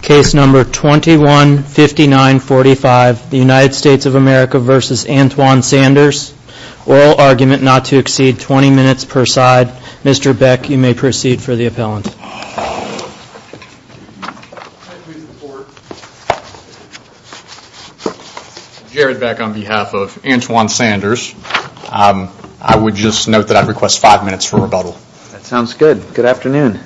case number twenty one fifty nine forty five the United States of America versus Antwone Sanders oral argument not to exceed twenty minutes per side Mr. Beck you may proceed for the appellant Jared Beck on behalf of Antwone Sanders I would just note that I request five minutes for rebuttal sounds good good afternoon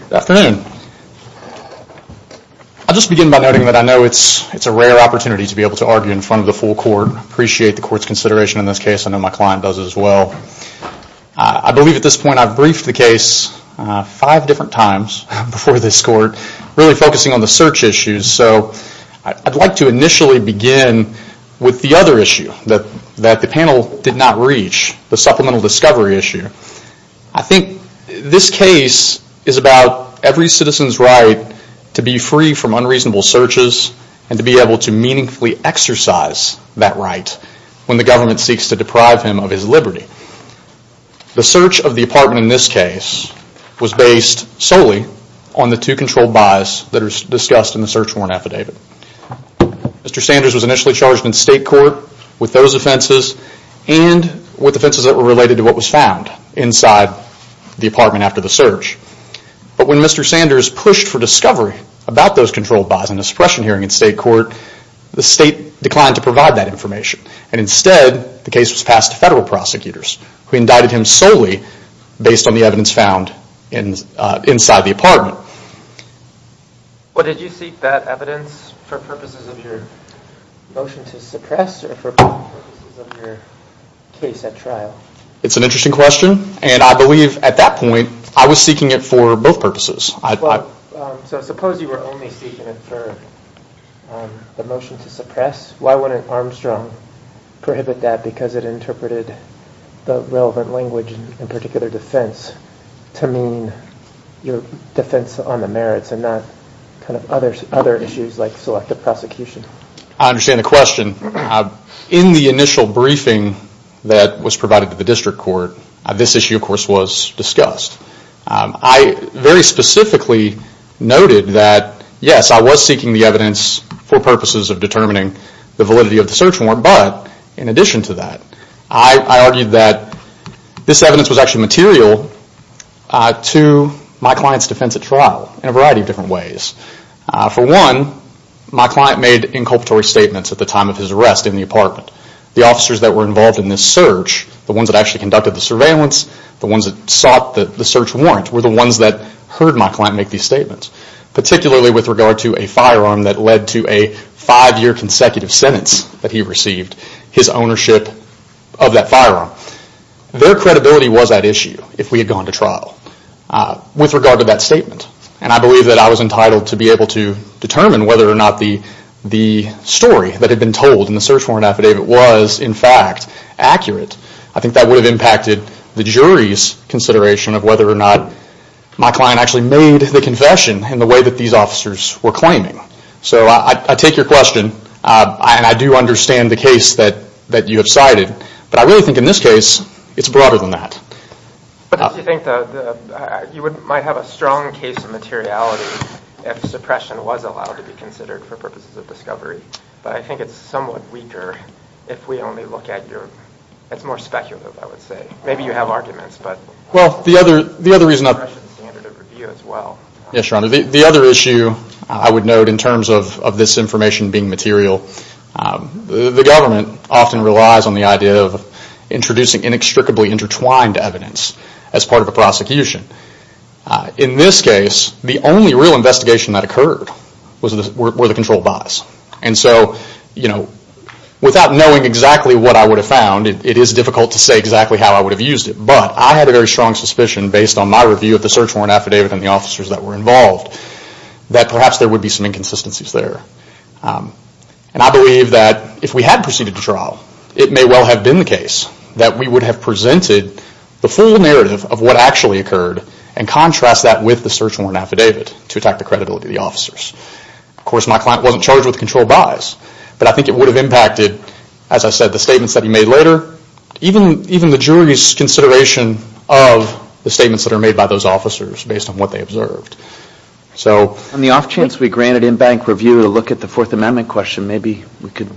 I'll just begin by noting that I know it's a rare opportunity to be able to argue in front of the full court appreciate the court's consideration in this case I know my client does as well I believe at this point I've briefed the case five different times before this court really focusing on the search issues so I'd like to initially begin with the other issue that the panel did not reach the supplemental discovery issue I think this case is about every citizen's right to be free from unreasonable searches and to be able to meaningfully exercise that right when the government seeks to deprive him of his liberty the search of the apartment in this case was based solely on the two controlled buys that are discussed in the search warrant affidavit Mr. Sanders was initially charged in state court with those offenses and with offenses that were related to what was found inside the apartment after the search but when Mr. Sanders pushed for discovery about those controlled buys in a suppression hearing in state court the state declined to provide that information and instead the case was passed to federal prosecutors who indicted him solely based on the evidence found inside the apartment well did you seek that evidence for purposes of your motion to suppress or for purposes of your case at trial it's an interesting question and I believe at that point I was seeking it for both purposes so suppose you were only seeking it for the motion to suppress why wouldn't Armstrong prohibit that because it interpreted the relevant language in particular defense to mean your defense on the merits and not kind of other issues like selective prosecution I understand the question in the initial briefing that was provided to the district court this issue of course was discussed I very specifically noted that yes I was seeking the evidence for purposes of determining the validity of the search warrant but in addition to that I argued that this evidence was actually material to my client's defense at trial in a variety of different ways for one my client made inculpatory statements at the time of his arrest in the apartment the officers that were involved in this search the ones that actually conducted the surveillance the ones that sought the search warrant were the ones that heard my client make these statements particularly with regard to a firearm that led to a five year consecutive sentence that he received his ownership of that firearm their credibility was at issue if we had gone to trial with regard to that statement and I believe that I was entitled to be able to determine whether or not the story that had been told in the search warrant affidavit was in fact accurate I think that would have impacted the jury's consideration of whether or not my client actually made the confession in the way that these officers were claiming so I take your question and I do understand the case that you have cited but I really think in this case it's broader than that but you might have a strong case of materiality if suppression was allowed to be considered for purposes of discovery but I think it's somewhat weaker if we only look at your it's more speculative I would say maybe you have arguments but well the other the other reason of standard of review as well yes your honor the other issue I would note in terms of this information being material the government often relies on the idea of introducing inextricably intertwined evidence as part of a prosecution in this case the only real investigation that occurred were the control buys and so you know without knowing exactly what I would have found it is difficult to say exactly how I would have used it but I had a very strong suspicion based on my review of the search warrant affidavit and the officers that were involved that perhaps there would be some inconsistencies there and I believe that if we had proceeded to trial it may well have been the case that we would have presented the full narrative of what actually occurred and contrast that with the search warrant affidavit to attack the credibility of the officers of course my client wasn't charged with control buys but I think it would have impacted as I said the statements that he made later even the jury's consideration of the statements that were made by those officers based on what they observed. So on the off chance we granted in bank review to look at the fourth amendment question maybe we could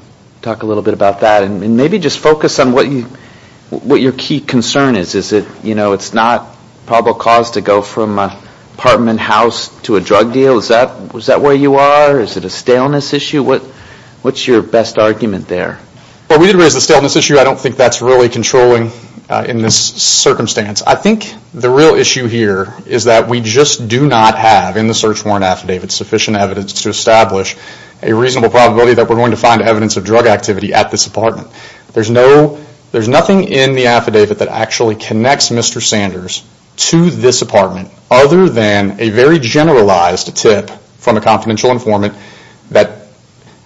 talk a little bit about that and maybe just focus on what your key concern is is it you know it's not probable cause to go from apartment house to a drug deal is that where you are is it a staleness issue what's your best argument there? Well we did raise the staleness issue I don't think that's really controlling in this circumstance I think the real issue here is that we just do not have in the search warrant affidavit sufficient evidence to establish a reasonable probability that we're going to find evidence of drug activity at this apartment there's no there's nothing in the affidavit that actually connects Mr. Sanders to this apartment other than a very generalized tip from a confidential informant that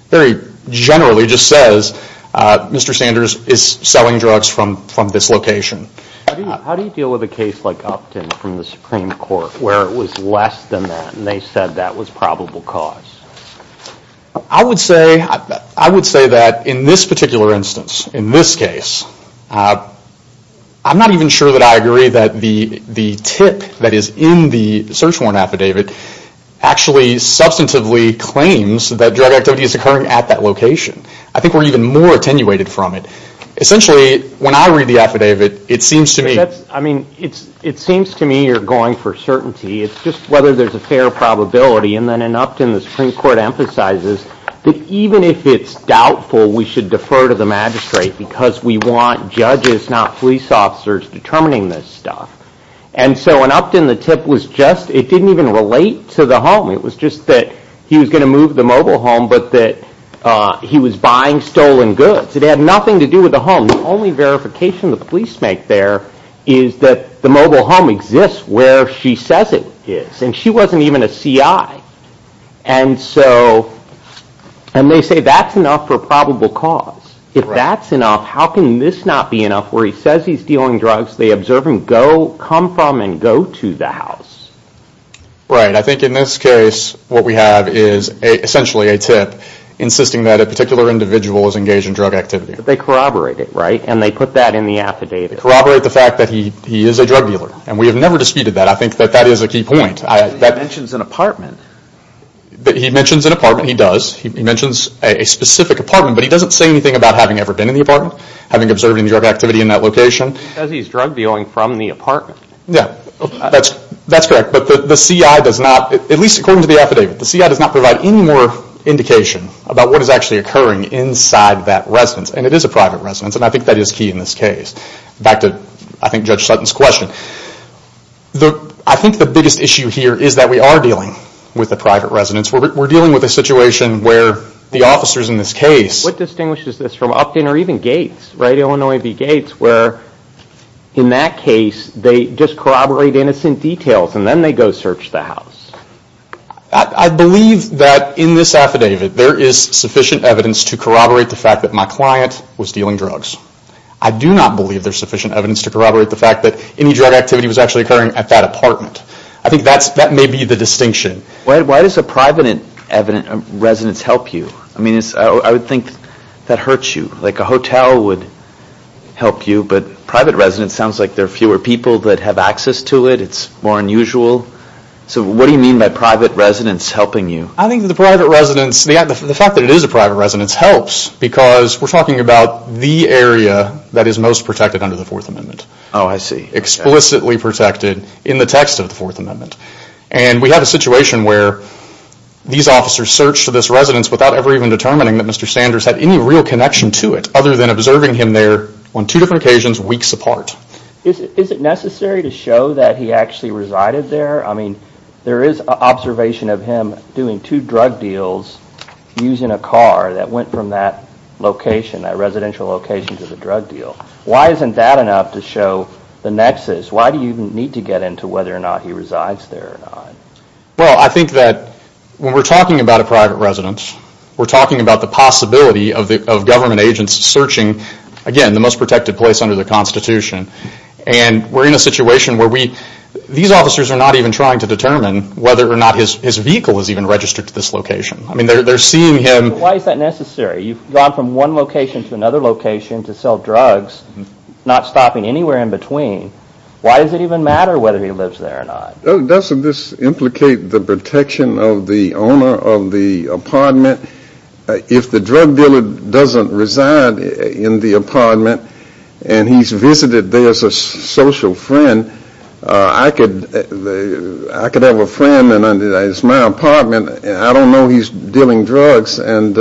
very generally just says Mr. Sanders is selling drugs from this location. How do you deal with a case like Upton from the Supreme Court where it was less than that and they said that was probable cause? I would say that in this particular instance in this case I'm not even sure that I agree that the tip that is in the search warrant affidavit actually substantively claims that drug activity is occurring at that location I think we're even more attenuated from it essentially when I read the affidavit it seems to me I mean it seems to me you're going for certainty it's just whether there's a fair probability and then in Upton the Supreme Court emphasizes that even if it's doubtful we should defer to the magistrate because we want judges not police officers determining this stuff and so in Upton the tip was just it didn't even relate to the home it was just that he was going to move the mobile home but that he was buying stolen goods it had nothing to do with the home the only verification the police make there is that the mobile home exists where she says it is and she wasn't even a C.I. and so and they say that's enough for probable cause if that's enough how can this not be enough where he says he's dealing drugs they observe him go come from and go to the house right I think in this case what we have is essentially a tip insisting that a particular individual is engaged in drug activity but they corroborate it right and they put that in the affidavit corroborate the fact that he is a drug dealer and we have never disputed that I think that that is a key point he mentions an apartment he mentions an apartment he does he mentions a specific apartment but he doesn't say anything about having ever been in the apartment having observed any drug activity in that location because he's drug dealing from the apartment yeah that's correct but the C.I. does not at least according to the affidavit the C.I. does not provide any more indication about what is actually occurring inside that residence and it is a private residence and I think that is key in this case back to I think Judge Sutton's question I think the biggest issue here is that we are dealing with a private residence we're dealing with a situation where the officers in this case what distinguishes this from Upton or even Gates right Illinois v. Gates where in that case they just corroborate innocent details and then they go search the house I believe that in this affidavit there is sufficient evidence to corroborate the fact that my client was dealing drugs I do not believe there is sufficient evidence to corroborate the fact that any drug activity was actually occurring at that apartment I think that may be the distinction why does a private residence help you I mean I would think that hurts you like a hotel would help you but private residence sounds like there are fewer people that have what do you mean by private residence helping you I think the fact that it is a private residence helps because we're talking about the area that is most protected under the fourth amendment oh I see explicitly protected in the text of the fourth amendment and we have a situation where these officers search this residence without ever even determining that Mr. Sanders had any real connection to it other than observing him there on two different occasions weeks apart is it necessary to show that he actually resided there I mean there is observation of him doing two drug deals using a car that went from that location that residential location to the drug deal why isn't that enough to show the nexus why do you need to get into whether or not he resides there well I think that when we're talking about a private residence we're talking about the possibility of the government agents searching again the most protected place under the Constitution and we're in a situation where we these officers are not even trying to determine whether or not his vehicle is even registered to this location I mean they're seeing him why is that necessary you've gone from one location to another location to sell drugs not stopping anywhere in between why does it even matter whether he lives there or not doesn't this implicate the protection of the owner of the apartment if the drug dealer doesn't reside in the apartment and he's visited there as a social friend I could have a friend and it's my apartment and I don't know he's dealing drugs and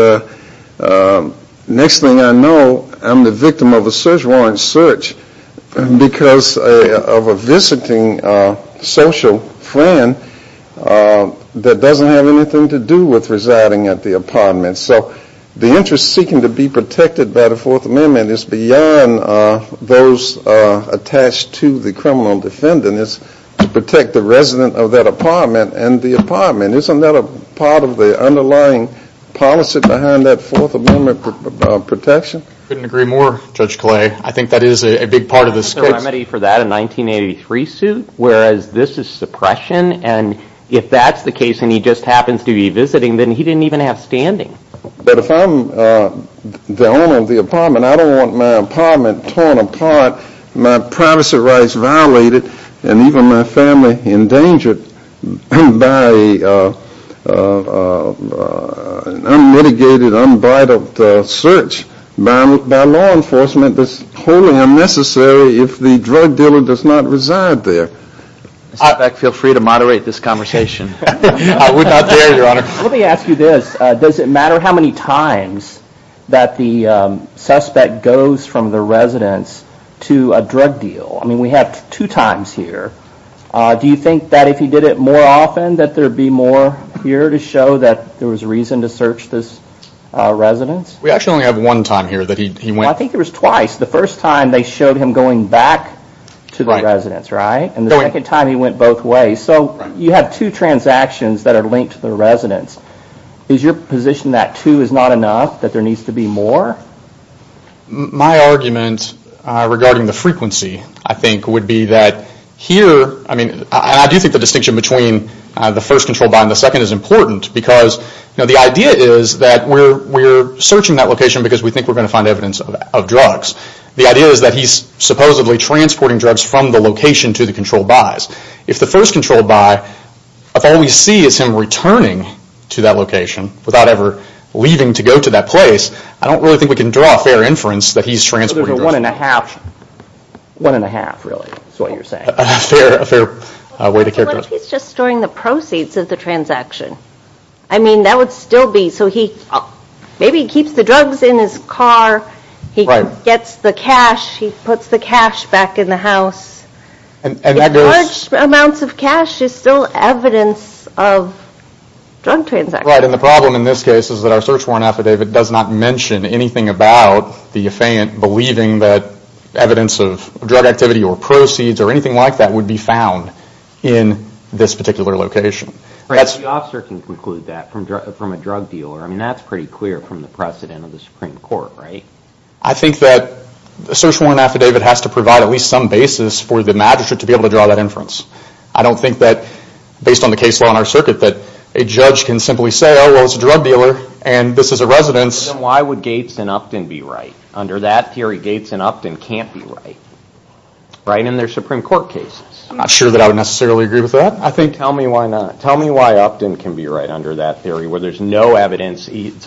next thing I know I'm the victim of a search warrant search because of a visiting social friend that doesn't have anything to do with residing at the apartment so the interest seeking to be protected by the Fourth Amendment is beyond those attached to the criminal defendant it's to protect the resident of that apartment and the apartment isn't that a part of the underlying policy behind that Fourth Amendment protection? I couldn't agree more Judge Clay I think that is a big part of this case. I think there's a remedy for that in the 1983 suit whereas this is suppression and if that's the case and he just happens to be visiting then he didn't even have standing. But if I'm the owner of the apartment I don't want my apartment torn apart, my privacy rights violated and even my family endangered by an unmitigated unbridled search by law enforcement that's wholly unnecessary if the drug dealer does not reside there. In fact feel free to iterate this conversation. I would not dare your honor. Let me ask you this, does it matter how many times that the suspect goes from the residence to a drug deal? I mean we have two times here. Do you think that if he did it more often that there would be more here to show that there was reason to search this residence? We actually only have one time here that he went. I think there was twice. The first time they showed him going back to the residence, right? And the second time he went both ways. So you have two transactions that are linked to the residence. Is your position that two is not enough? That there needs to be more? My argument regarding the frequency I think would be that here, I mean I do think the distinction between the first control bond and the second is important because the idea is that we're searching that location because we think we're going to find evidence of drugs. The idea is that he's supposedly transporting drugs from the location to the control buys. If the first control buy, if all we see is him returning to that location without ever leaving to go to that place, I don't really think we can draw a fair inference that he's transporting drugs. So there's a one and a half, one and a half really is what you're saying. A fair way to characterize it. What if he's just storing the proceeds of the transaction? I mean that would still be, so he maybe keeps the drugs in his car, he gets the cash, he puts the cash back in the house. And large amounts of cash is still evidence of drug transactions. Right, and the problem in this case is that our search warrant affidavit does not mention anything about the affaint believing that evidence of drug activity or proceeds or anything like that would be found in this particular location. Right, the officer can conclude that from a drug dealer. I mean that's pretty clear from the precedent of the Supreme Court, right? I think that the search warrant affidavit has to provide at least some basis for the magistrate to be able to draw that inference. I don't think that based on the case law in our circuit that a judge can simply say, oh well it's a drug dealer and this is a residence. Then why would Gates and Upton be right? Under that theory Gates and Upton can't be right. Right, in their Supreme Court cases. I'm not sure that I would necessarily agree with that. I think, tell me why not. Tell me why Upton can be right under that theory where there's no evidence, it's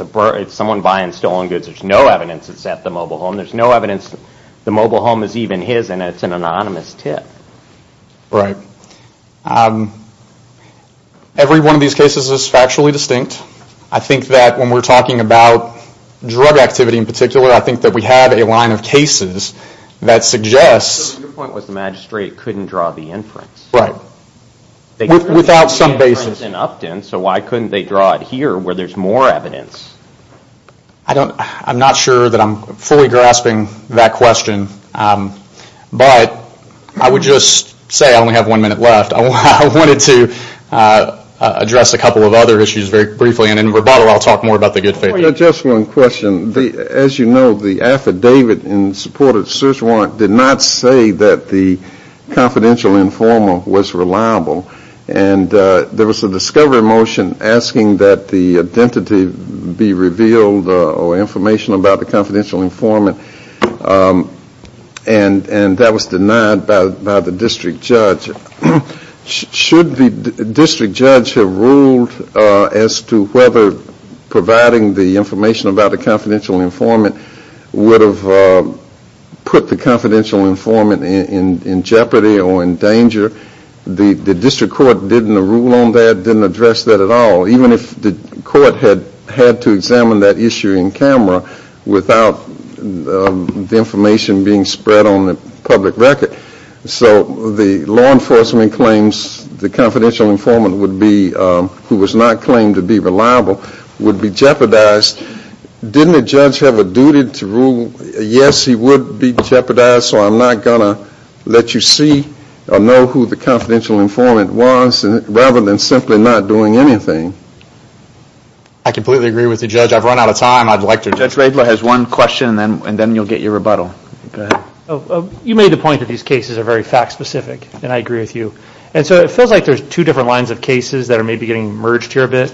someone buying stolen goods, there's no evidence it's at the mobile home, there's no evidence the mobile home is even his and it's an anonymous tip. Right. Every one of these cases is factually distinct. I think that when we're talking about drug activity in particular, I think that we have a line of cases that suggests. So your point was the magistrate couldn't draw the inference. Right. Without some basis. So why couldn't they draw it here where there's more evidence? I'm not sure that I'm fully grasping that question, but I would just say I only have one minute left. I wanted to address a couple of other issues very briefly and in rebuttal I'll talk more about the good faith. Just one question. As you know the affidavit in support of search warrant did not say that the confidential informant was reliable. There was a discovery motion asking that the identity be revealed or information about the confidential informant and that was denied by the district judge. Should the district judge have ruled as to whether providing the information about the confidential informant would have put the confidential informant in jeopardy or in danger, the district court didn't rule on that, didn't address that at all. Even if the court had to examine that issue in camera without the information being spread on the public record. So the law enforcement claims the confidential informant would be, who was not claimed to be reliable, would be jeopardized. Didn't the judge have a duty to rule yes he would be jeopardized so I'm not going to let you see or know who the confidential informant was rather than simply not doing anything? I completely agree with the judge. I've run out of time. I'd like to, Judge Radler has one question and then you'll get your rebuttal. You made the point that these cases are very fact specific and I agree with you. And so it feels like there's two different lines of cases that are maybe getting merged here a bit.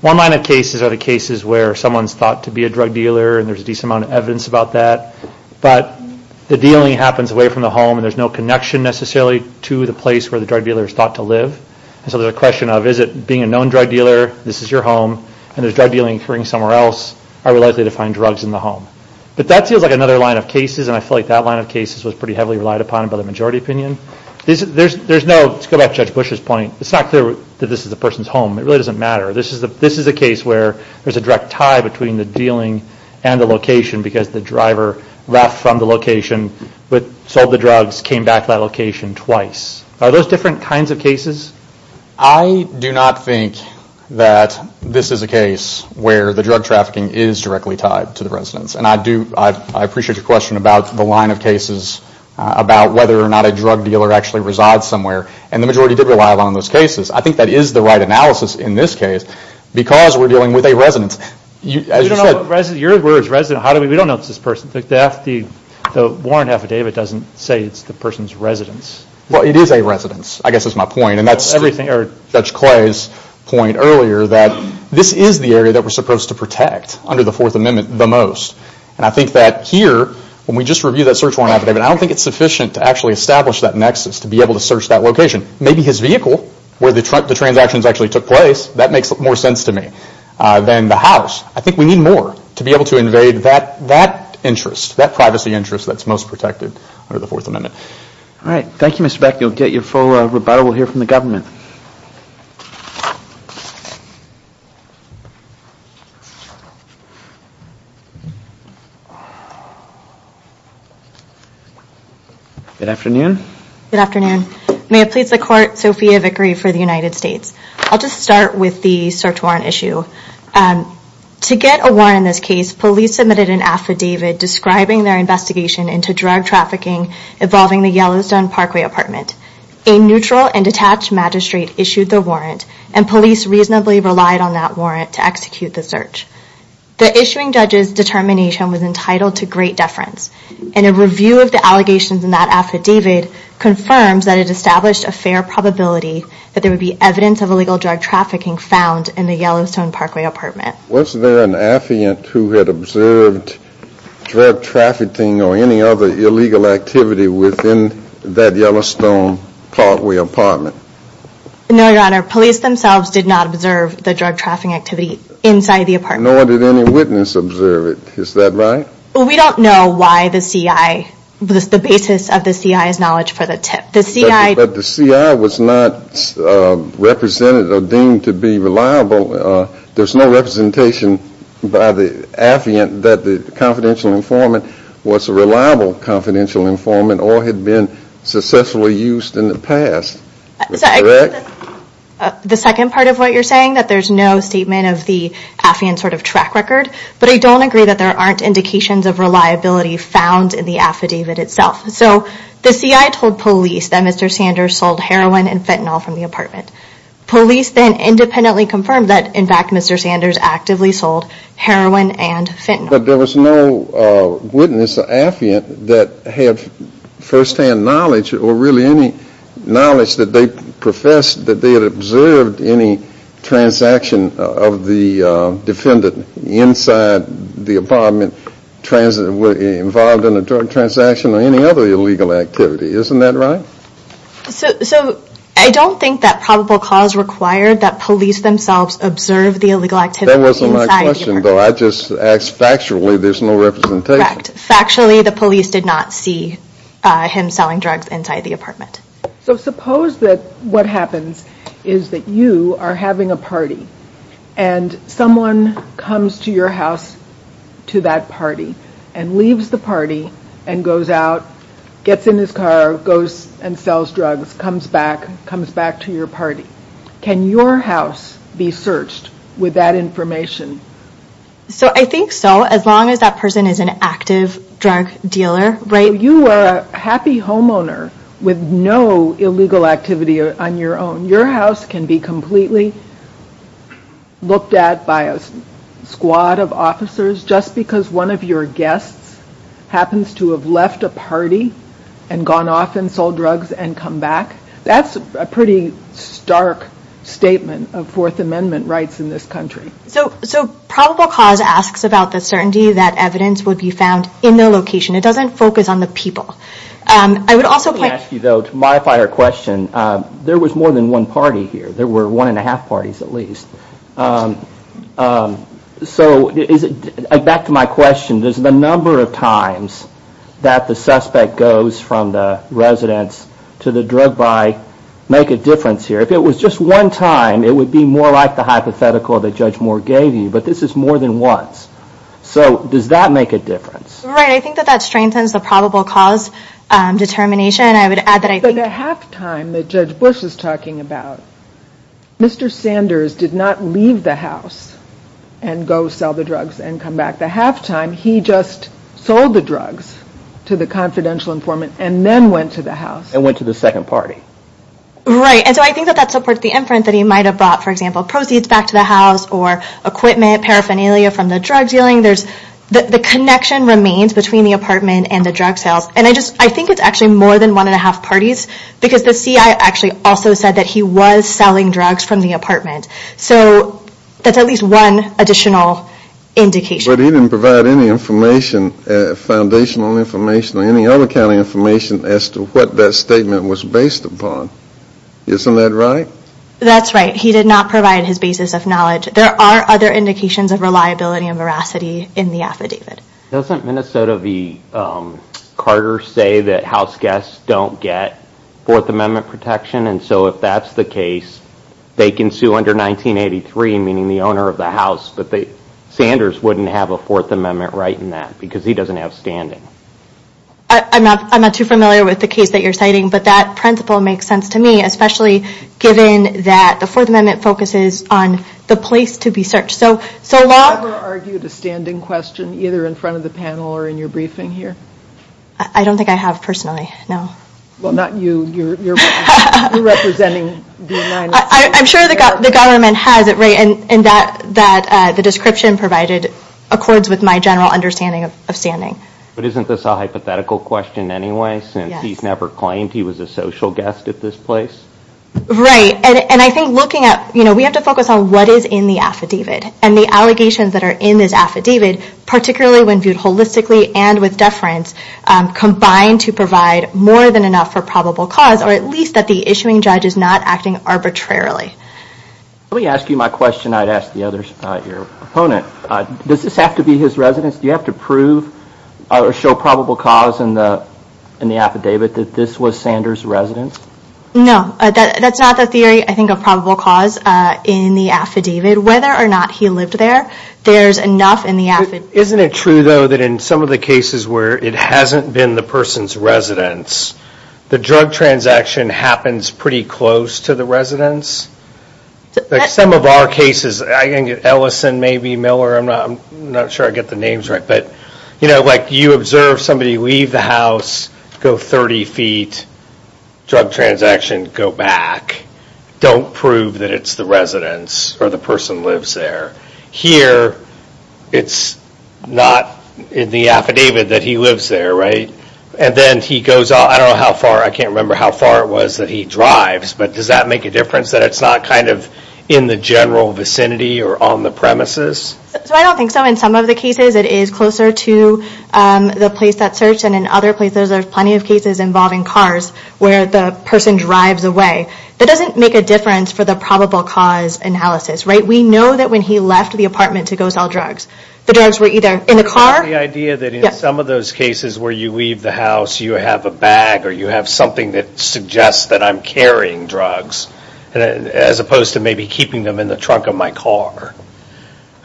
One line of cases are the cases where someone's thought to be a drug dealer and there's a decent amount of evidence about that. But the dealing happens away from the home and there's no connection necessarily to the place where the drug dealer is thought to live. So there's a question of is it being a known drug dealer, this is your home and there's drug dealing occurring somewhere else, are we likely to find drugs in the home? But that feels like another line of cases and I feel like that line of cases was pretty heavily relied upon by the majority opinion. There's no, let's go back to Judge Bush's point, it's not clear that this is the person's home. It really doesn't matter. This is a case where there's a direct tie between the dealing and the location because the driver left from the location, sold the drugs, came back to that location twice. Are those different kinds of cases? I do not think that this is a case where the drug trafficking is directly tied to the residence and I do, I appreciate your question about the line of cases about whether or not a drug dealer actually resides somewhere and the majority did rely upon those cases. I think that is the right analysis in this case because we're dealing with a residence. You don't know what residence, your word is residence, we don't know it's this person. The warrant affidavit doesn't say it's the person's residence. Well it is a residence, I guess that's my point and that's Judge Clay's point earlier that this is the area that we're supposed to protect under the Fourth Amendment the most and I think that here when we just reviewed that search warrant affidavit, I don't think it's sufficient to actually establish that nexus to be able to search that location. Maybe his vehicle where the transactions actually took place, that makes more sense to me than the house. I think we need more to be able to invade that interest, that privacy interest that's most protected under the Fourth Amendment. Alright, thank you Mr. Beck. You'll get your full rebuttal. We'll hear from the government. Good afternoon. Good afternoon. May it please the Court, Sophia Vickery for the United States. I'll just start with the search warrant issue. To get a warrant in this case, police submitted an affidavit describing their investigation into drug trafficking involving the Yellowstone Parkway apartment. A neutral and detached magistrate issued the warrant and police reasonably relied on that warrant to execute the search. The issuing judge's determination was entitled to great deference and a review of the allegations in that affidavit confirms that it established a fair probability that there would be evidence of illegal drug trafficking found in the Yellowstone Parkway apartment. Was there an affiant who had observed drug trafficking or any other illegal activity within that Yellowstone Parkway apartment? No, Your Honor. Police themselves did not observe the drug trafficking activity inside the apartment. Nor did any witness observe it. Is that right? We don't know why the CI, the basis of the CI's knowledge for the tip. But the CI was not represented or deemed to be reliable. There's no representation by the affiant that the confidential informant was a reliable confidential informant or had been successfully used in the past. Is that correct? The second part of what you're saying, that there's no statement of the affiant sort of track record, but I don't agree that there aren't indications of reliability found in the affidavit itself. So the CI told police that Mr. Sanders sold heroin and fentanyl from the apartment. Police then independently confirmed that, in fact, Mr. Sanders actively sold heroin and fentanyl. But there was no witness or affiant that had first-hand knowledge or really any knowledge that they professed that they had observed any transaction of the defendant inside the apartment. No transaction of any other illegal activity. Isn't that right? So I don't think that probable cause required that police themselves observe the illegal activity inside the apartment. That wasn't my question, though. I just asked factually, there's no representation. Correct. Factually, the police did not see him selling drugs inside the apartment. So suppose that what happens is that you are having a party and someone comes to your house to that party and leaves the party and goes out, gets in his car, goes and sells drugs, comes back, comes back to your party. Can your house be searched with that information? So I think so, as long as that person is an active drug dealer, right? You are a happy homeowner with no illegal activity on your own. Your house can be completely looked at by a squad of officers just because one of your guests happens to have left a party and gone off and sold drugs and come back. That's a pretty stark statement of Fourth Amendment rights in this country. So probable cause asks about the certainty that evidence would be found in the location. It doesn't focus on the people. I would also like to ask you, though, to modify our question. There was more than one party here. There were one and a half parties at least. So back to my question, does the number of times that the suspect goes from the residence to the drug buy make a difference here? If it was just one time, it would be more like the hypothetical that Judge Moore gave you, but this is more than once. So does that make a difference? Right, I think that that strengthens the probable cause determination. I would add that I think... The half time that Judge Bush is talking about, Mr. Sanders did not leave the house and go sell the drugs and come back. The half time, he just sold the drugs to the confidential informant and then went to the house. And went to the second party. Right, and so I think that supports the inference that he might have brought, for example, proceeds back to the house or equipment, paraphernalia from the drug dealing. The connection remains between the apartment and the drug sales. And I think it's actually more than one and Because the CI actually also said that he was selling drugs from the apartment. So that's at least one additional indication. But he didn't provide any information, foundational information or any other kind of information as to what that statement was based upon. Isn't that right? That's right. He did not provide his basis of knowledge. There are other indications of reliability and veracity in the affidavit. Doesn't Minnesota v. Carter say that house guests don't get 4th Amendment protection? And so if that's the case, they can sue under 1983, meaning the owner of the house. But Sanders wouldn't have a 4th Amendment right in that because he doesn't have standing. I'm not too familiar with the case that you're citing, but that principle makes sense to me, especially given that the 4th Amendment focuses on the place to be searched. Have you ever argued a standing question either in front of the panel or in your briefing here? I don't think I have personally, no. Well, not you. You're representing the United States. I'm sure the government has it right in that the description provided accords with my general understanding of standing. But isn't this a hypothetical question anyway since he's never claimed he was a social guest at this place? Right. And I think looking at, you know, we have to focus on what is in the affidavit and the allegations that are in this affidavit, particularly when viewed holistically and with deference, combine to provide more than enough for probable cause, or at least that the issuing judge is not acting arbitrarily. Let me ask you my question I'd ask the other, your opponent. Does this have to be his residence? Do you have to prove or show probable cause in the affidavit that this was Sanders' residence? No, that's not the theory. I think a probable cause in the affidavit, whether or not he lived there, there's enough in the affidavit. Isn't it true though that in some of the cases where it hasn't been the person's residence, the drug transaction happens pretty close to the residence? Some of our cases, I think Ellison, maybe Miller, I'm not sure I get the names right, but, you know, like you observe somebody leave the house, go 30 feet, drug transaction, go back, don't prove that it's the residence or the person lives there. Here, it's not in the affidavit that he lives there, right? And then he goes out, I don't know how far, I can't remember how far it was that he drives, but does that make a difference that it's not kind of in the general vicinity or on the premises? I don't think so. In some of the cases, it is closer to the place that search and in other places, there's plenty of cases involving cars where the person drives away. That doesn't make a difference for the probable cause analysis, right? We know that when he left the apartment to go sell drugs, the drugs were either in the car. The idea that in some of those cases where you leave the house, you have a bag or you have something that suggests that I'm carrying drugs as opposed to maybe keeping them in the trunk of my car.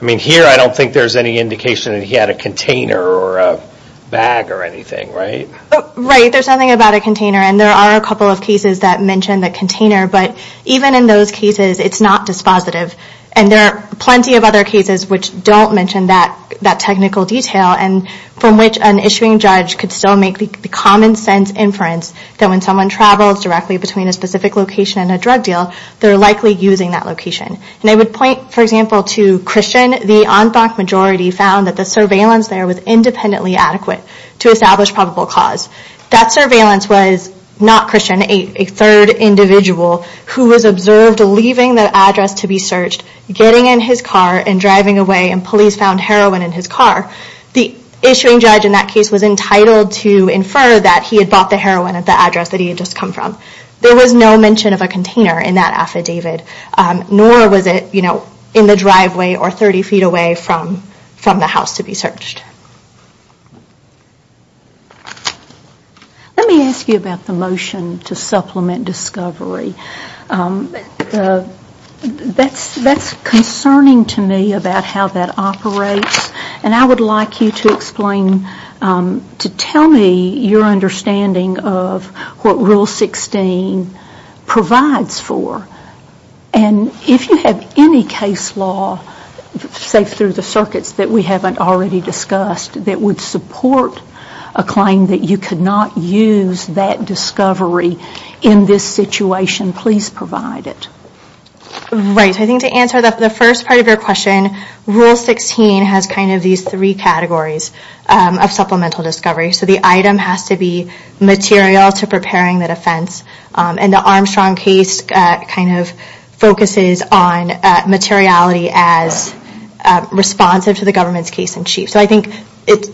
I mean, here, I don't think there's any indication that he had a container or a bag or anything, right? Right. There's nothing about a container and there are a couple of cases that mention the container, but even in those cases, it's not dispositive. And there are plenty of other cases which don't mention that technical detail and from which an issuing judge could still make the common sense inference that when someone travels directly between a specific location and a drug deal, they're likely using that location. And I would point, for example, to Christian. The en banc majority found that the surveillance there was independently adequate to establish probable cause. That surveillance was not Christian, a third individual who was observed leaving the address to be searched, getting in his car and driving away and police found heroin in his car. The issuing judge in that case was entitled to infer that he had bought the heroin at the address that he had just come from. There was no mention of a container in that affidavit, nor was it, you know, in the driveway or 30 feet away from the house to be searched. Let me ask you about the motion to supplement discovery. That's concerning to me about how that operates and I would like you to explain, to tell me your understanding of what Rule 16 provides for. And if you have any case law, safe through the circuits, that we haven't already discussed that would support a claim that you could not use that discovery in this situation, please provide it. Right. So I think to answer the first part of your question, Rule 16 has kind of these three categories of supplemental discovery. So the item has to be material to preparing the defense and the Armstrong case kind of focuses on materiality as responsive to the government's case in chief. So I think,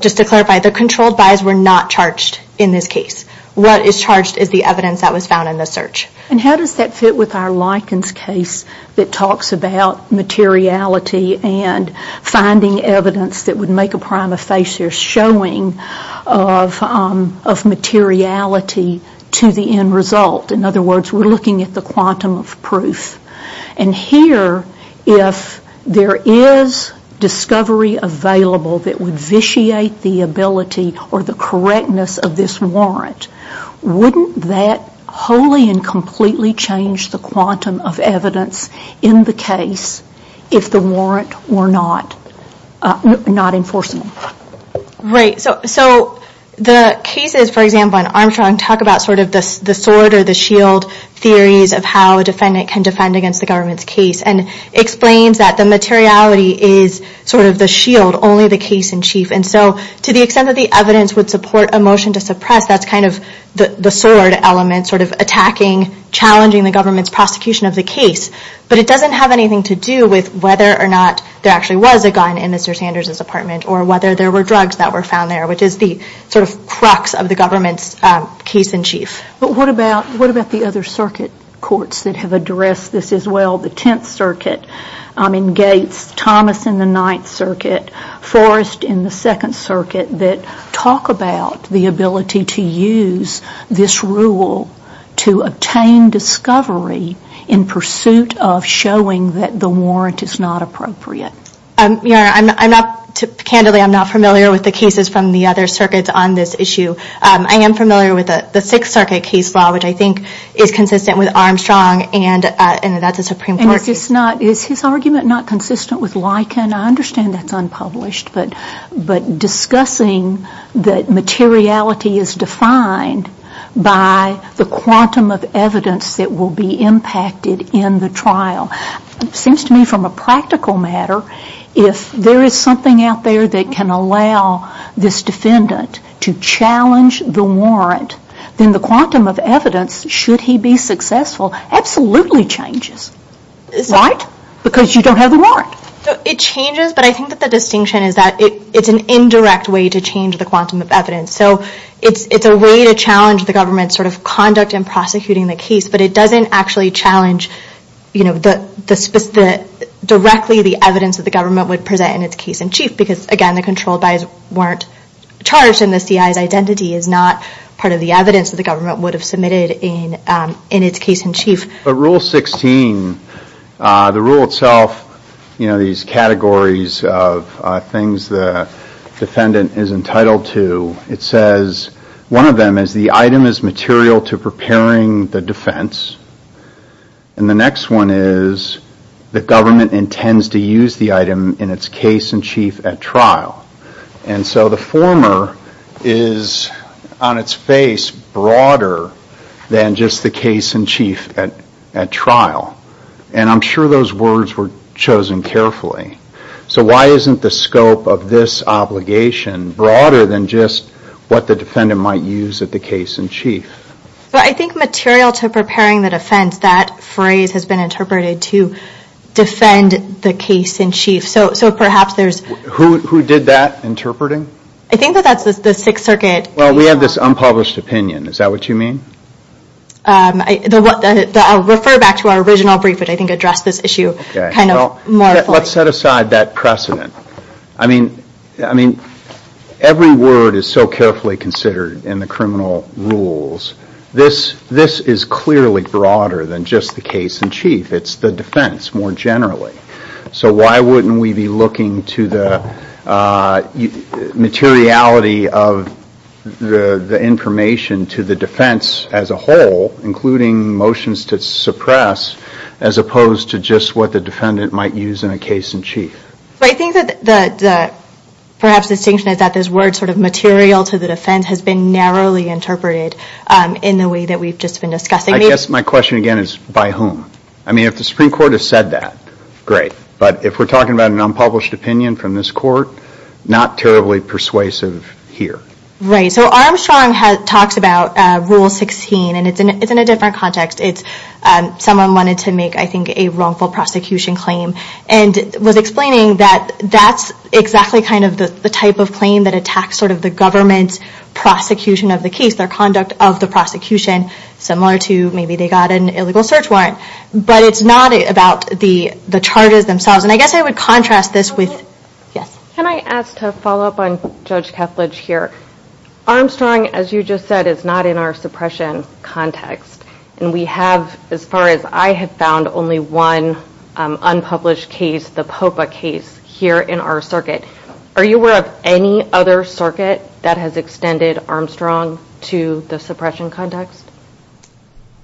just to clarify, the controlled buys were not charged in this case. What is charged is the evidence that was found in the search. And how does that fit with our Likens case that talks about materiality and finding evidence that would make a prima facie showing of materiality to the end result? In other words, we're looking at the quantum of proof. And here, if there is discovery available that would vitiate the ability or the correctness of this warrant, wouldn't that wholly and completely change the quantum of evidence in the case if the warrant were not enforceable? Right. So the cases, for example, in Armstrong talk about sort of the sword or the shield theories of how a defendant can defend against the government's case and explains that the materiality is sort of the shield, only the case in chief. And so to the extent that the evidence would support a motion to suppress, that's kind of the sword element, sort of attacking, challenging the government's prosecution of the case. But it doesn't have anything to do with whether or not there actually was a gun in Mr. Sanders' apartment or whether there were drugs that were found there, which is the sort of crux of the government's case in chief. But what about the other circuit courts that have addressed this as well? The Tenth Circuit in Gates, Thomas in the Ninth Circuit, Forrest in the Second Circuit that talk about the ability to use this rule to obtain discovery in pursuit of showing that the warrant is not appropriate. Your Honor, I'm not, candidly, I'm not familiar with the cases from the other circuits on this issue. I am familiar with the Sixth Circuit case law, which I think is consistent with Armstrong and that's a Supreme Court case. Is his argument not consistent with Liken? I understand that's unpublished, but discussing that materiality is defined by the quantum of evidence that will be impacted in the trial, it seems to me from a practical matter, if there is something out there that can allow this defendant to challenge the warrant, then the quantum of evidence, should he be successful, absolutely changes, right? Because you don't have the warrant. It changes, but I think that the distinction is that it's an indirect way to change the quantum of evidence. So it's a way to challenge the government's conduct in prosecuting the case, but it doesn't actually challenge directly the evidence that the government would present in its case-in-chief because again, the controlled by's weren't charged and the CI's identity is not part of the evidence that the government would have submitted in its case-in-chief. Rule 16, the rule itself, these categories of things the defendant is entitled to, it says one of them is the item is material to preparing the defense and the next one is the government intends to use the item in its case-in-chief at trial. And so the former is on its face broader than just the case-in-chief at trial. And I'm sure those words were chosen carefully. So why isn't the scope of this obligation broader than just what the defendant might use at the case-in-chief? But I think material to preparing the defense, that phrase has been interpreted to defend the case-in-chief. So perhaps there's... Who did that interpreting? I think that that's the Sixth Circuit. Well, we have this unpublished opinion. Is that what you mean? I'll refer back to our original brief, but I think address this issue kind of more fully. Let's set aside that precedent. I mean, every word is so carefully considered in the criminal rules. This is clearly broader than just the case-in-chief. It's the defense more generally. So why wouldn't we be looking to the materiality of the information to the defense as a whole, including motions to suppress, as opposed to just what the defendant might use in a case-in-chief? But I think that perhaps the distinction is that this word sort of material to the defense has been narrowly interpreted in the way that we've just been discussing. I guess my question again is by whom? I mean, if the Supreme Court has said that, great. But if we're talking about an unpublished opinion from this court, not terribly persuasive here. Right. So Armstrong talks about Rule 16, and it's in a different context. Someone wanted to make, I think, a wrongful prosecution claim and was explaining that that's exactly kind of the type of claim that attacks sort of the government's prosecution of the case, their conduct of the prosecution, similar to maybe they got an illegal search warrant. But it's not about the charges themselves. And I guess I would contrast this with... Can I ask to follow up on Judge Kepledge here? Armstrong, as you just said, is not in our suppression context. And we have, as far as I have found, only one unpublished case, the Popa case, here in our circuit. Are you aware of any other circuit that has extended Armstrong to the suppression context?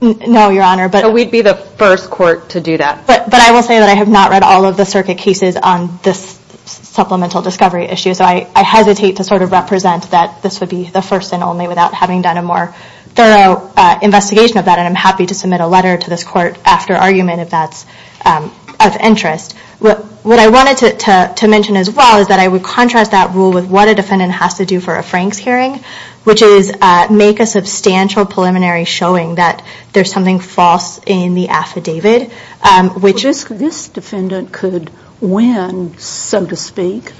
No, Your Honor, but... So we'd be the first court to do that. But I will say that I have not read all of the circuit cases on this supplemental discovery issue. So I hesitate to sort of represent that this would be the first and only without having done a more thorough investigation of that, and I'm happy to submit a letter to this court after argument if that's of interest. What I wanted to mention as well is that I would contrast that rule with what a defendant has to do for a Franks hearing, which is make a substantial preliminary showing that there's something false in the affidavit, which is... This defendant could win, so to speak,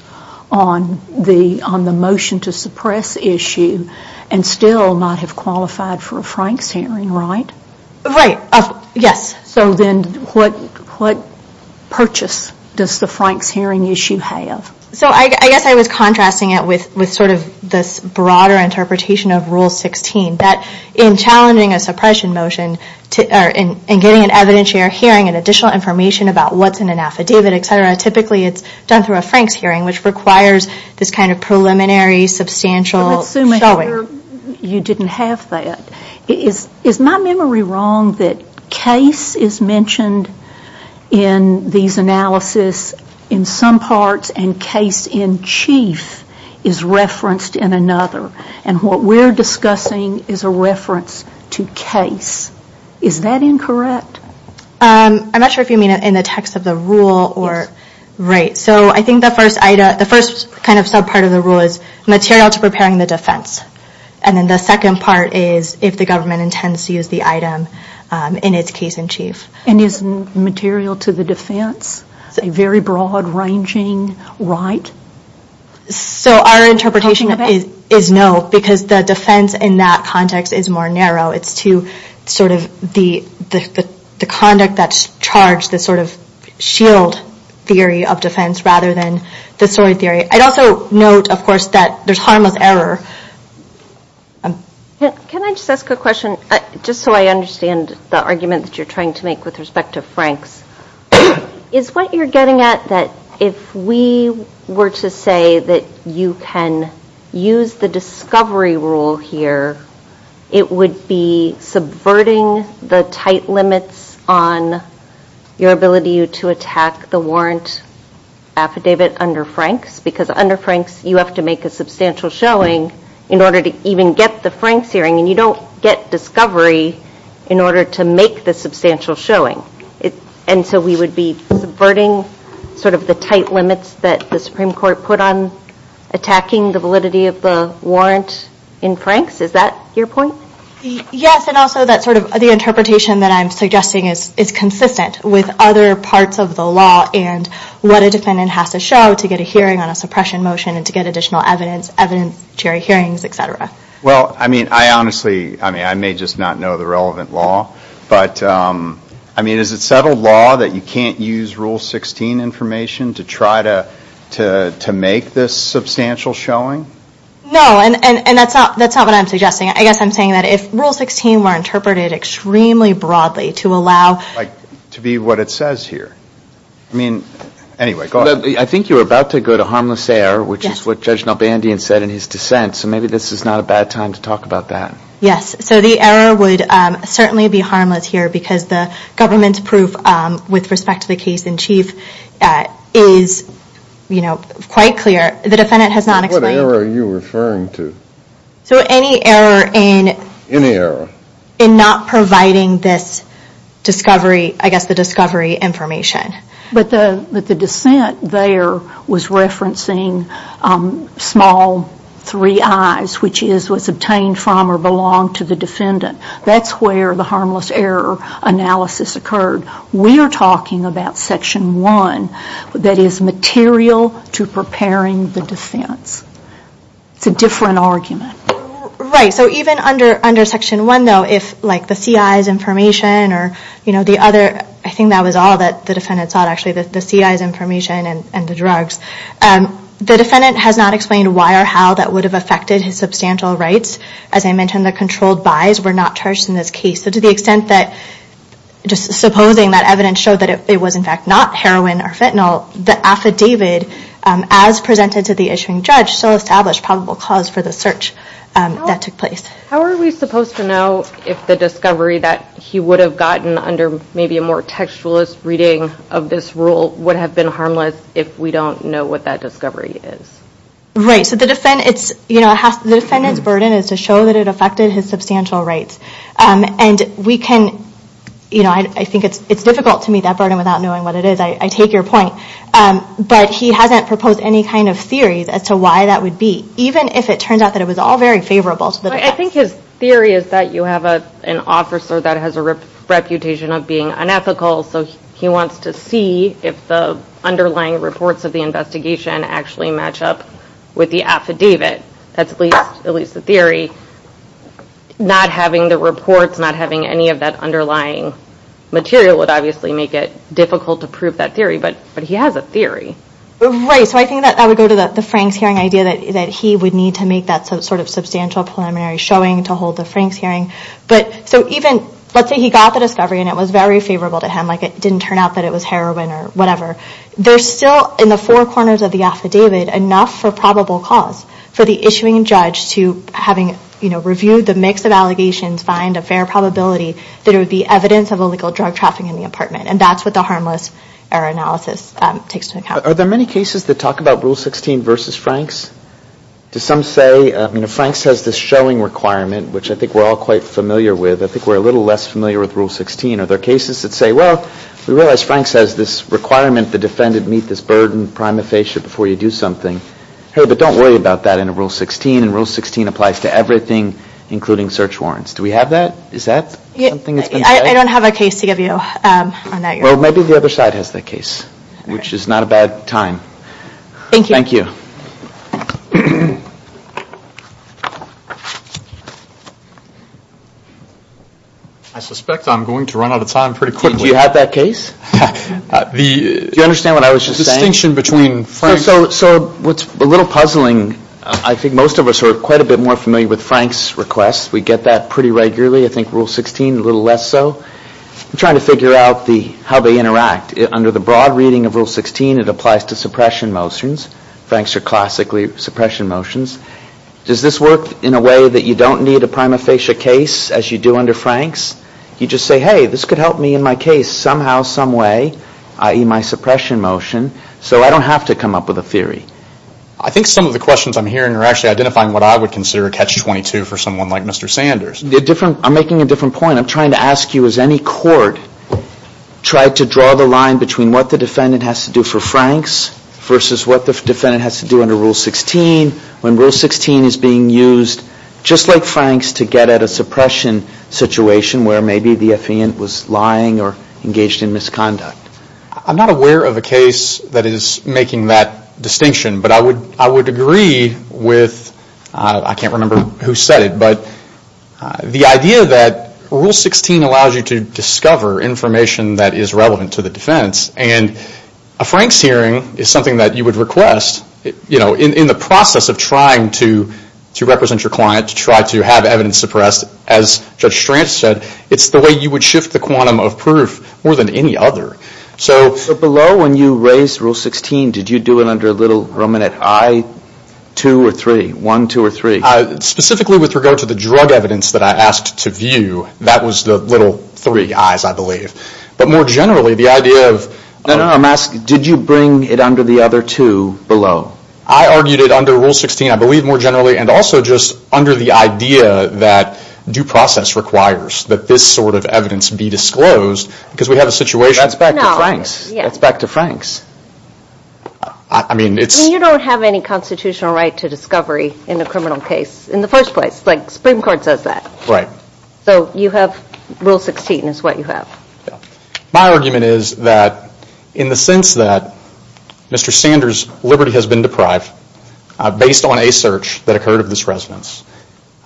on the motion to suppress issue and still not have qualified for a Franks hearing, right? Right. Yes. So then what purchase does the Franks hearing issue have? So I guess I was contrasting it with sort of this broader interpretation of Rule 16, that in challenging a suppression motion, in getting an evidentiary hearing and additional information about what's in an affidavit, et cetera, typically it's done through a Franks hearing, which requires this kind of preliminary substantial showing. But let's assume you didn't have that. Is my memory wrong that case is mentioned in these analysis in some parts and case in chief is referenced in another? And what we're discussing is a reference to case. Is that incorrect? I'm not sure if you mean it in the text of the rule or... Right. So I think the first kind of sub-part of the rule is material to preparing the defense. And then the second part is if the government intends to use the item in its case in chief. And is material to the defense a very broad ranging right? So our interpretation is no, because the defense in that context is more narrow. It's to sort of the conduct that's charged, the sort of shield theory of defense, rather than the story theory. I'd also note, of course, that there's harmless error. Can I just ask a question? Just so I understand the argument that you're trying to make with respect to Franks. Is what you're getting at that if we were to say that you can use the discovery rule here, it would be subverting the tight limits on your ability to attack the warrant affidavit under Franks? Because under Franks, you have to make a substantial showing in order to even get the Franks hearing. And you don't get discovery in order to make the substantial showing. And so we would be subverting sort of the tight limits that the Supreme Court put on attacking the validity of the warrant in Franks? Is that your point? Yes. And also that sort of the interpretation that I'm suggesting is consistent with other parts of the law and what a defendant has to show to get a hearing on a suppression motion and to get additional evidence, evidentiary hearings, et cetera. Well, I mean, I honestly, I mean, I may just not know the relevant law. But I mean, is it settled law that you can't use Rule 16 information to try to make this substantial showing? No. And that's not what I'm suggesting. I guess I'm saying that if Rule 16 were interpreted extremely broadly to allow... To be what it says here. I mean, anyway, go ahead. I think you were about to go to harmless error, which is what Judge Nalbandian said in his dissent. So maybe this is not a bad time to talk about that. Yes. So the error would certainly be harmless here because the government's proof with respect to the case in chief is quite clear. The defendant has not explained... What error are you referring to? So any error in... Any error. In not providing this discovery, I guess the discovery information. But the dissent there was referencing small three I's, which is what's obtained from or the defendant. That's where the harmless error analysis occurred. We are talking about Section 1 that is material to preparing the defense. It's a different argument. Right. So even under Section 1 though, if like the CI's information or the other... I think that was all that the defendant sought actually, the CI's information and the drugs. The defendant has not explained why or how that would have affected his substantial rights. As I mentioned, the controlled buys were not charged in this case. So to the extent that just supposing that evidence showed that it was in fact not heroin or fentanyl, the affidavit as presented to the issuing judge still established probable cause for the search that took place. How are we supposed to know if the discovery that he would have gotten under maybe a more textualist reading of this rule would have been harmless if we don't know what that discovery is? Right. So the defendant's burden is to show that it affected his substantial rights. I think it's difficult to meet that burden without knowing what it is. I take your point. But he hasn't proposed any kind of theories as to why that would be, even if it turns out that it was all very favorable to the defense. I think his theory is that you have an officer that has a reputation of being unethical. So he wants to see if the underlying reports of the investigation actually match up with the affidavit. That's at least the theory. Not having the reports, not having any of that underlying material would obviously make it difficult to prove that theory. But he has a theory. Right. So I think that would go to the Frank's hearing idea that he would need to make that sort of substantial preliminary showing to hold the Frank's hearing. So even, let's say he got the discovery and it was very favorable to him, like it didn't turn out that it was heroin or whatever, there's still in the four corners of the affidavit enough for probable cause for the issuing judge to, having reviewed the mix of allegations, find a fair probability that it would be evidence of illegal drug trafficking in the apartment. And that's what the harmless error analysis takes into account. Are there many cases that talk about Rule 16 versus Frank's? Do some say, you know, Frank's has this showing requirement, which I think we're all quite familiar with. I think we're a little less familiar with Rule 16. Are there cases that say, well, we realize Frank's has this requirement, the defendant should meet this burden prima facie before you do something, hey, but don't worry about that in Rule 16. And Rule 16 applies to everything, including search warrants. Do we have that? Is that something that's been said? I don't have a case to give you on that. Well, maybe the other side has that case, which is not a bad time. Thank you. Thank you. I suspect I'm going to run out of time pretty quickly. Do you have that case? Do you understand what I was just saying? So what's a little puzzling, I think most of us are quite a bit more familiar with Frank's requests. We get that pretty regularly. I think Rule 16, a little less so. I'm trying to figure out how they interact. Under the broad reading of Rule 16, it applies to suppression motions. Frank's are classically suppression motions. Does this work in a way that you don't need a prima facie case, as you do under Frank's? You just say, hey, this could help me in my case somehow, some way, i.e. my suppression motion. So I don't have to come up with a theory. I think some of the questions I'm hearing are actually identifying what I would consider a catch-22 for someone like Mr. Sanders. I'm making a different point. I'm trying to ask you, has any court tried to draw the line between what the defendant has to do for Frank's versus what the defendant has to do under Rule 16? When Rule 16 is being used, just like Frank's, to get at a suppression situation where maybe the defendant was lying or engaged in misconduct. I'm not aware of a case that is making that distinction. But I would agree with, I can't remember who said it, but the idea that Rule 16 allows you to discover information that is relevant to the defense. And a Frank's hearing is something that you would request in the process of trying to represent your client, to try to have evidence suppressed. As Judge Strantz said, it's the way you would shift the quantum of proof more than any other. So below when you raised Rule 16, did you do it under a little ruminant I, 2, or 3? Specifically with regard to the drug evidence that I asked to view, that was the little three I's, I believe. But more generally, the idea of... No, no, no, I'm asking, did you bring it under the other two below? I argued it under Rule 16, I believe, more generally. And also just under the idea that due process requires that this sort of evidence be disclosed. Because we have a situation... That's back to Frank's. That's back to Frank's. I mean, it's... You don't have any constitutional right to discovery in a criminal case in the first place. Like Supreme Court says that. Right. So you have Rule 16 is what you have. My argument is that in the sense that Mr. Sanders' liberty has been deprived based on a search that occurred of this residence,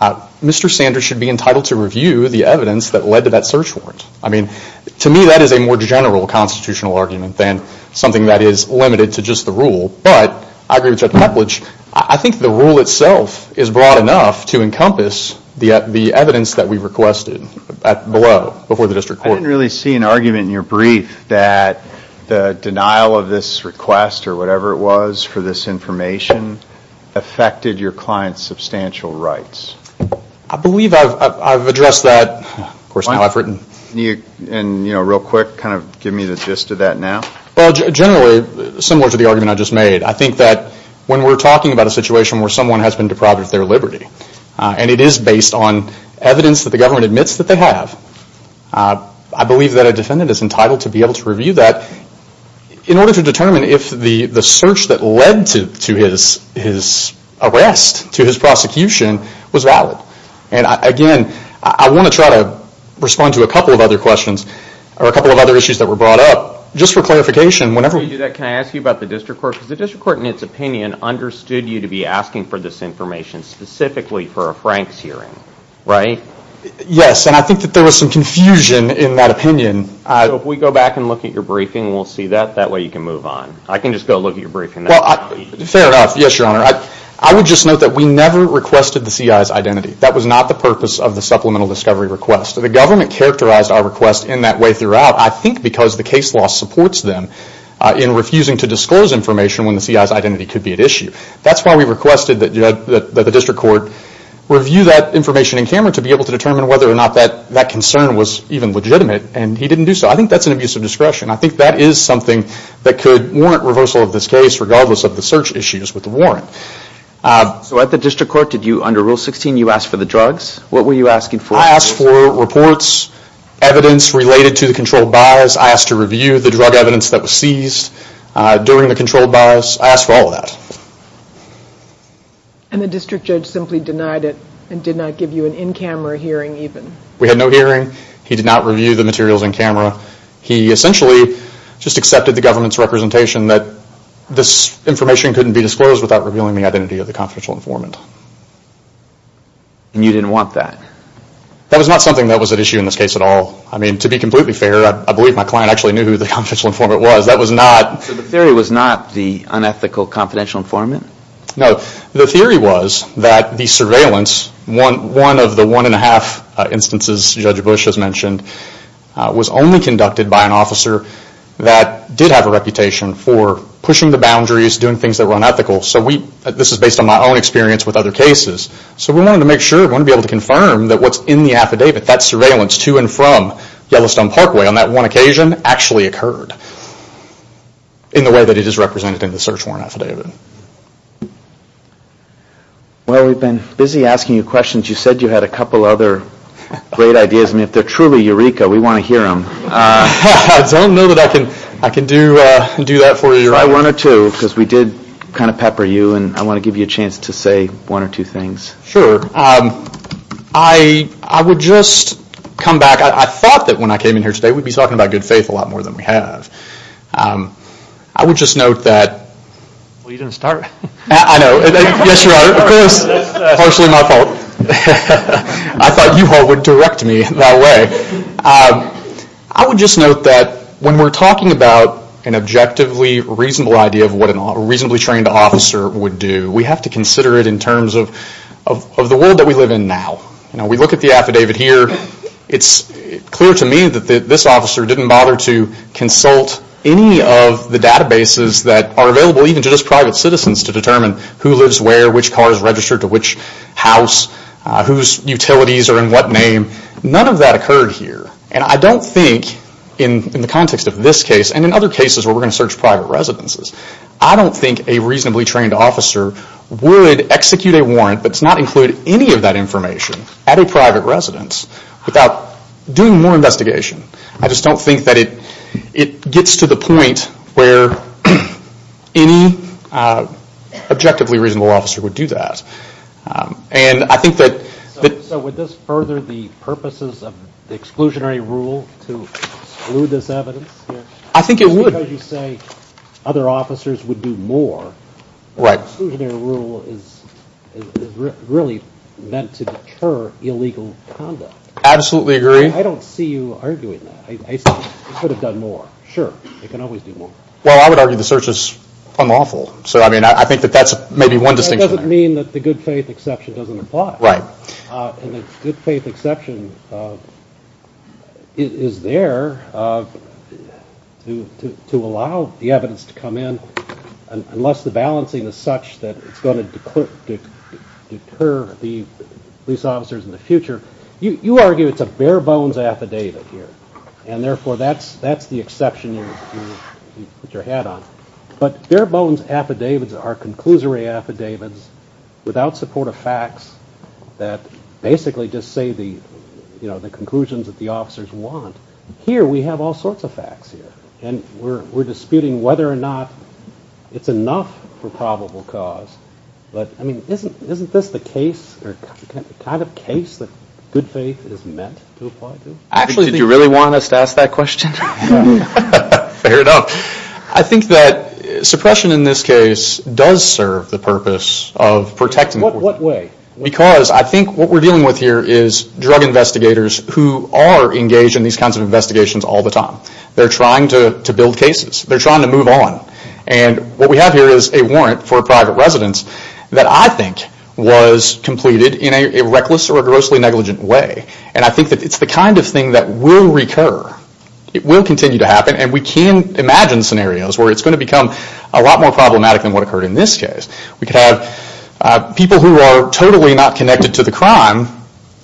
Mr. Sanders should be entitled to review the evidence that led to that search warrant. I mean, to me that is a more general constitutional argument than something that is limited to just the rule. But I agree with Judge Kuplage. I think the rule itself is broad enough to encompass the evidence that we've requested below, before the district court. I didn't really see an argument in your brief that the denial of this request or whatever it was for this information affected your client's substantial rights. I believe I've addressed that. Of course, now I've written. And, you know, real quick, kind of give me the gist of that now. Well, generally, similar to the argument I just made, I think that when we're talking about a situation where someone has been deprived of their liberty, and it is based on evidence that the government admits that they have, I believe that a defendant is entitled to be able to review that in order to determine if the search that led to his arrest, to his prosecution, was valid. And, again, I want to try to respond to a couple of other questions, or a couple of other issues that were brought up, just for clarification. Before you do that, can I ask you about the district court? Because the district court, in its opinion, understood you to be asking for this information specifically for a Franks hearing, right? Yes, and I think that there was some confusion in that opinion. If we go back and look at your briefing, we'll see that. That way you can move on. I can just go look at your briefing. Fair enough, yes, Your Honor. I would just note that we never requested the CI's identity. That was not the purpose of the supplemental discovery request. The government characterized our request in that way throughout, I think, because the case law supports them in refusing to disclose information when the CI's identity could be at issue. That's why we requested that the district court review that information in camera to be able to determine whether or not that concern was even legitimate, and he didn't do so. I think that's an abuse of discretion. I think that is something that could warrant reversal of this case, regardless of the search issues with the warrant. So at the district court, under Rule 16, you asked for the drugs? What were you asking for? I asked for reports, evidence related to the controlled bias. I asked to review the drug evidence that was seized during the controlled bias. I asked for all of that. And the district judge simply denied it and did not give you an in-camera hearing even? We had no hearing. He did not review the materials in camera. He essentially just accepted the government's representation that this information couldn't be disclosed without revealing the identity of the confidential informant. And you didn't want that? That was not something that was at issue in this case at all. I mean, to be completely fair, I believe my client actually knew who the confidential informant was. So the theory was not the unethical confidential informant? No. The theory was that the surveillance, one of the one and a half instances Judge Bush has mentioned, was only conducted by an officer that did have a reputation for pushing the boundaries, doing things that were unethical. So this is based on my own experience with other cases. So we wanted to make sure, we wanted to be able to confirm that what's in the affidavit, that surveillance to and from Yellowstone Parkway on that one occasion actually occurred in the way that it is represented in the search warrant affidavit. Well, we've been busy asking you questions. You said you had a couple other great ideas. I mean, if they're truly eureka, we want to hear them. I don't know that I can do that for you. Sure, I wanted to because we did kind of pepper you and I want to give you a chance to say one or two things. Sure. I would just come back. I thought that when I came in here today we'd be talking about good faith a lot more than we have. I would just note that. Well, you didn't start. I know. Yes, you're right. Of course, partially my fault. I thought you all would direct me that way. I would just note that when we're talking about an objectively reasonable idea of what a reasonably trained officer would do, we have to consider it in terms of the world that we live in now. We look at the affidavit here. It's clear to me that this officer didn't bother to consult any of the databases that are available even to just private citizens to determine who lives where, which car is registered to which house, whose utilities are in what name. None of that occurred here. I don't think in the context of this case and in other cases where we're going to search private residences, I don't think a reasonably trained officer would execute a warrant but not include any of that information at a private residence without doing more investigation. I just don't think that it gets to the point where any objectively reasonable officer would do that. And I think that... So would this further the purposes of the exclusionary rule to exclude this evidence here? I think it would. Because you say other officers would do more. Right. The exclusionary rule is really meant to deter illegal conduct. Absolutely agree. I don't see you arguing that. You could have done more. Sure. You can always do more. Well, I would argue the search is unlawful. So I mean, I think that that's maybe one distinction. It doesn't mean that the good faith exception doesn't apply. And the good faith exception is there to allow the evidence to come in unless the balancing is such that it's going to deter the police officers in the future. You argue it's a bare bones affidavit here, and therefore that's the exception you put your hat on. But bare bones affidavits are conclusory affidavits without support of facts that basically just say the conclusions that the officers want. Here we have all sorts of facts here, and we're disputing whether or not it's enough for probable cause. But, I mean, isn't this the case or the kind of case that good faith is meant to apply to? Actually, did you really want us to ask that question? No. Fair enough. I think that suppression in this case does serve the purpose of protecting the court. What way? Because I think what we're dealing with here is drug investigators who are engaged in these kinds of investigations all the time. They're trying to build cases. They're trying to move on. And what we have here is a warrant for a private residence that I think was completed in a reckless or a grossly negligent way. And I think that it's the kind of thing that will recur. It will continue to happen. And we can imagine scenarios where it's going to become a lot more problematic than what occurred in this case. We could have people who are totally not connected to the crime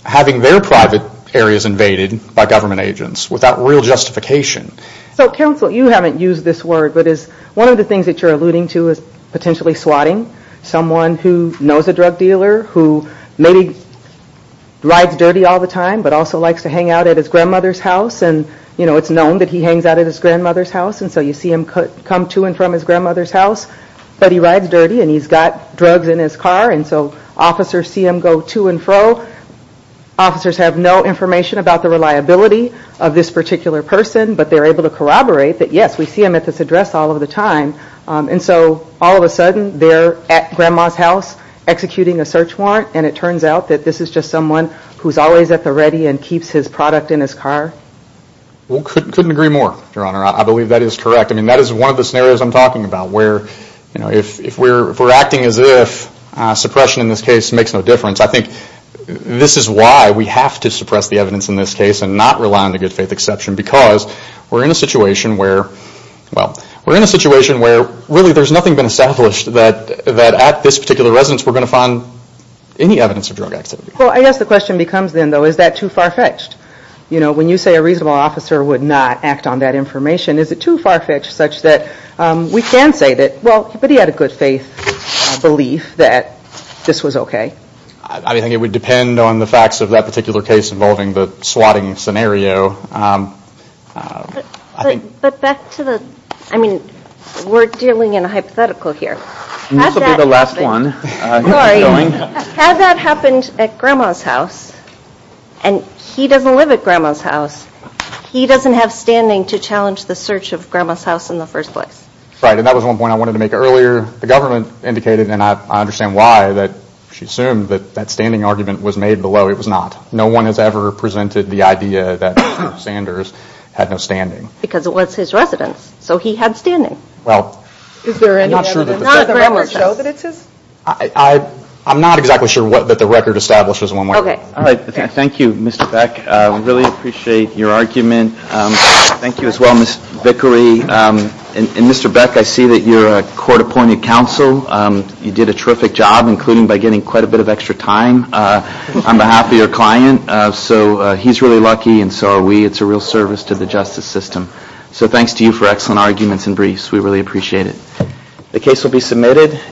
having their private areas invaded by government agents without real justification. So, counsel, you haven't used this word, but one of the things that you're alluding to is potentially swatting. Someone who knows a drug dealer who maybe rides dirty all the time but also likes to hang out at his grandmother's house, and it's known that he hangs out at his grandmother's house, and so you see him come to and from his grandmother's house. But he rides dirty, and he's got drugs in his car, and so officers see him go to and fro. Officers have no information about the reliability of this particular person, but they're able to corroborate that, yes, we see him at this address all of the time. And so all of a sudden they're at grandma's house executing a search warrant, and it turns out that this is just someone who's always at the ready and keeps his product in his car. Well, couldn't agree more, Your Honor. I believe that is correct. I mean, that is one of the scenarios I'm talking about where if we're acting as if suppression in this case makes no difference, I think this is why we have to suppress the evidence in this case and not rely on the good faith exception because we're in a situation where, well, we're in a situation where really there's nothing been established that at this particular residence we're going to find any evidence of drug activity. Well, I guess the question becomes then, though, is that too far-fetched? You know, when you say a reasonable officer would not act on that information, is it too far-fetched such that we can say that, well, but he had a good faith belief that this was okay? I think it would depend on the facts of that particular case involving the swatting scenario. But back to the, I mean, we're dealing in a hypothetical here. This will be the last one. Had that happened at Grandma's house, and he doesn't live at Grandma's house, he doesn't have standing to challenge the search of Grandma's house in the first place. Right, and that was one point I wanted to make earlier. The government indicated, and I understand why, that she assumed that that standing argument was made below. It was not. No one has ever presented the idea that Sanders had no standing. Because it was his residence, so he had standing. I'm not sure that the records show that it's his. I'm not exactly sure that the record establishes one way or another. Thank you, Mr. Beck. I really appreciate your argument. Thank you as well, Ms. Vickery. And Mr. Beck, I see that you're a court-appointed counsel. You did a terrific job, including by getting quite a bit of extra time on behalf of your client. So he's really lucky, and so are we. It's a real service to the justice system. So thanks to you for excellent arguments and briefs. We really appreciate it. The case will be submitted.